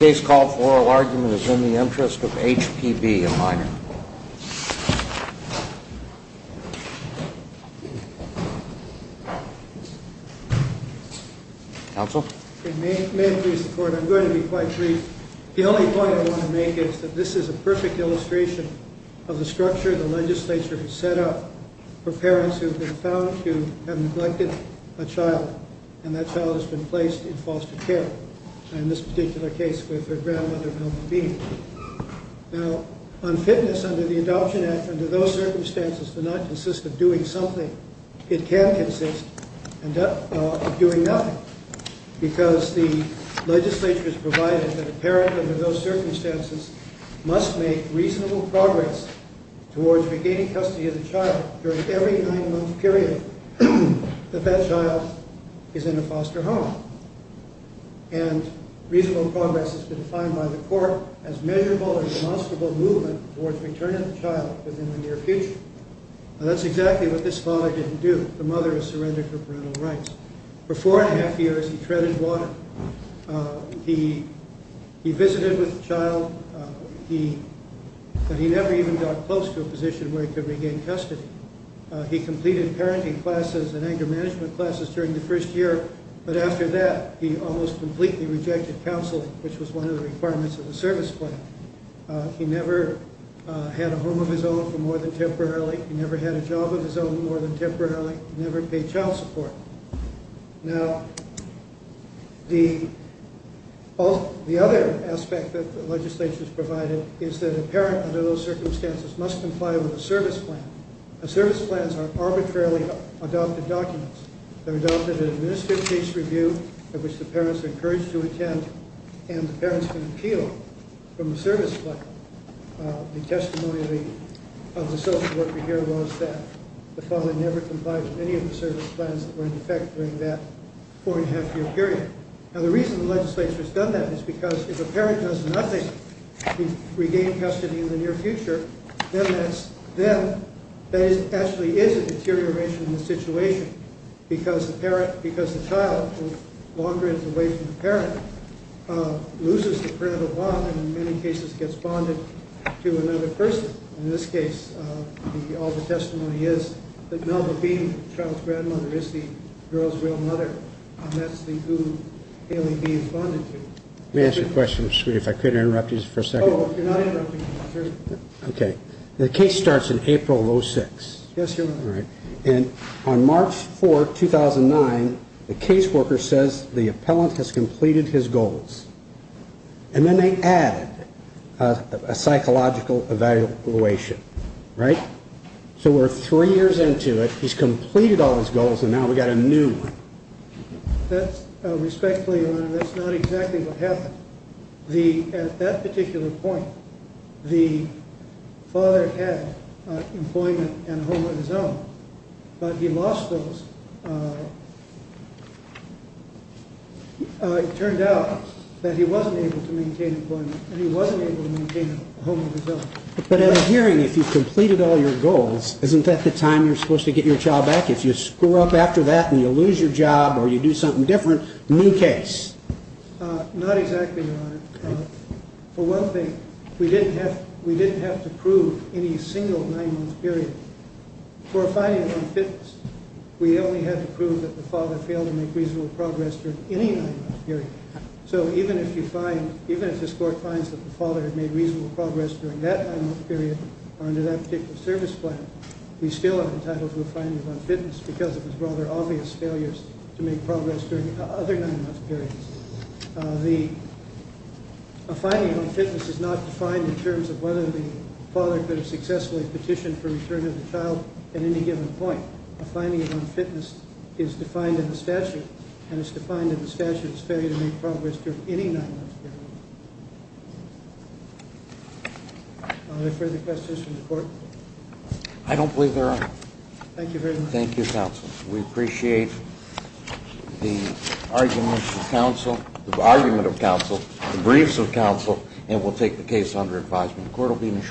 May I please report? I'm going to be quite brief. The only point I want to make is that this is a perfect illustration of the structure the legislature has set up for parents who have been found to have neglected a child and that child has been placed in foster care. In this particular case, with her grandmother, Melvin Bean. Now, on fitness under the Adoption Act, under those circumstances, to not consist of doing something, it can consist of doing nothing, because the legislature has provided that a parent under those circumstances must make reasonable progress towards regaining custody of the child during every nine-month period that that child is in a foster home. And reasonable progress has been defined by the court as measurable or demonstrable movement towards returning the child within the near future. Now, that's exactly what this father didn't do. The mother was surrendered for parental rights. For four and a half years, he treaded water. He visited with the child, but he never even got close to a position where he could regain custody. He completed parenting classes and anger management classes during the first year, but after that, he almost completely rejected counsel, which was one of the requirements of the service plan. He never had a home of his own for more than temporarily. He never had a job of his own for more than temporarily. He never paid child support. Now, the other aspect that the legislature has provided is that a parent under those circumstances must comply with a service plan. Service plans are arbitrarily adopted documents. They're adopted in an administrative case review in which the parents are encouraged to attend, and the parents can appeal from a service plan. The testimony of the social worker here was that the father never complied with any of the service plans that were in effect during that four-and-a-half-year period. Now, the reason the legislature has done that is because if a parent does nothing to regain custody in the near future, then that actually is a deterioration in the situation because the child, who longer is away from the parent, loses the parental bond and in many cases gets bonded to another person. In this case, all the testimony is that Melba is bonded to. Let me ask you a question, Mr. Scruti, if I could interrupt you for a second. Oh, if you're not interrupting, sure. Okay. The case starts in April of 06. Yes, your Honor. All right. And on March 4, 2009, the caseworker says the appellant has completed his goals. And then they added a psychological evaluation, right? So we're three years into it, he's completed all his goals, and now we've got a new one. That's, respectfully, your Honor, that's not exactly what happened. At that particular point, the father had employment and a home of his own, but he lost those. It turned out that he wasn't able to maintain employment and he wasn't able to maintain a home of his own. But at a hearing, if you've to get your child back, if you screw up after that and you lose your job or you do something different, new case. Not exactly, your Honor. For one thing, we didn't have to prove any single nine-month period. For a finding of unfitness, we only had to prove that the father failed to make reasonable progress during any nine-month period. So even if you find, even if this Court finds that the father had made reasonable progress during that nine-month period or under that particular service plan, we still are entitled to a finding of unfitness because of his rather obvious failures to make progress during other nine-month periods. A finding of unfitness is not defined in terms of whether the father could have successfully petitioned for return of the child at any given point. A finding of unfitness is defined in the statute, and it's defined in the statute as failure to make progress during any nine-month period. Are there further questions from the Court? I don't believe there are. Thank you very much. Thank you, Counsel. We appreciate the arguments of Counsel, the argument of Counsel, the briefs of Counsel, and we'll take the case under advisement. The Court will be in a short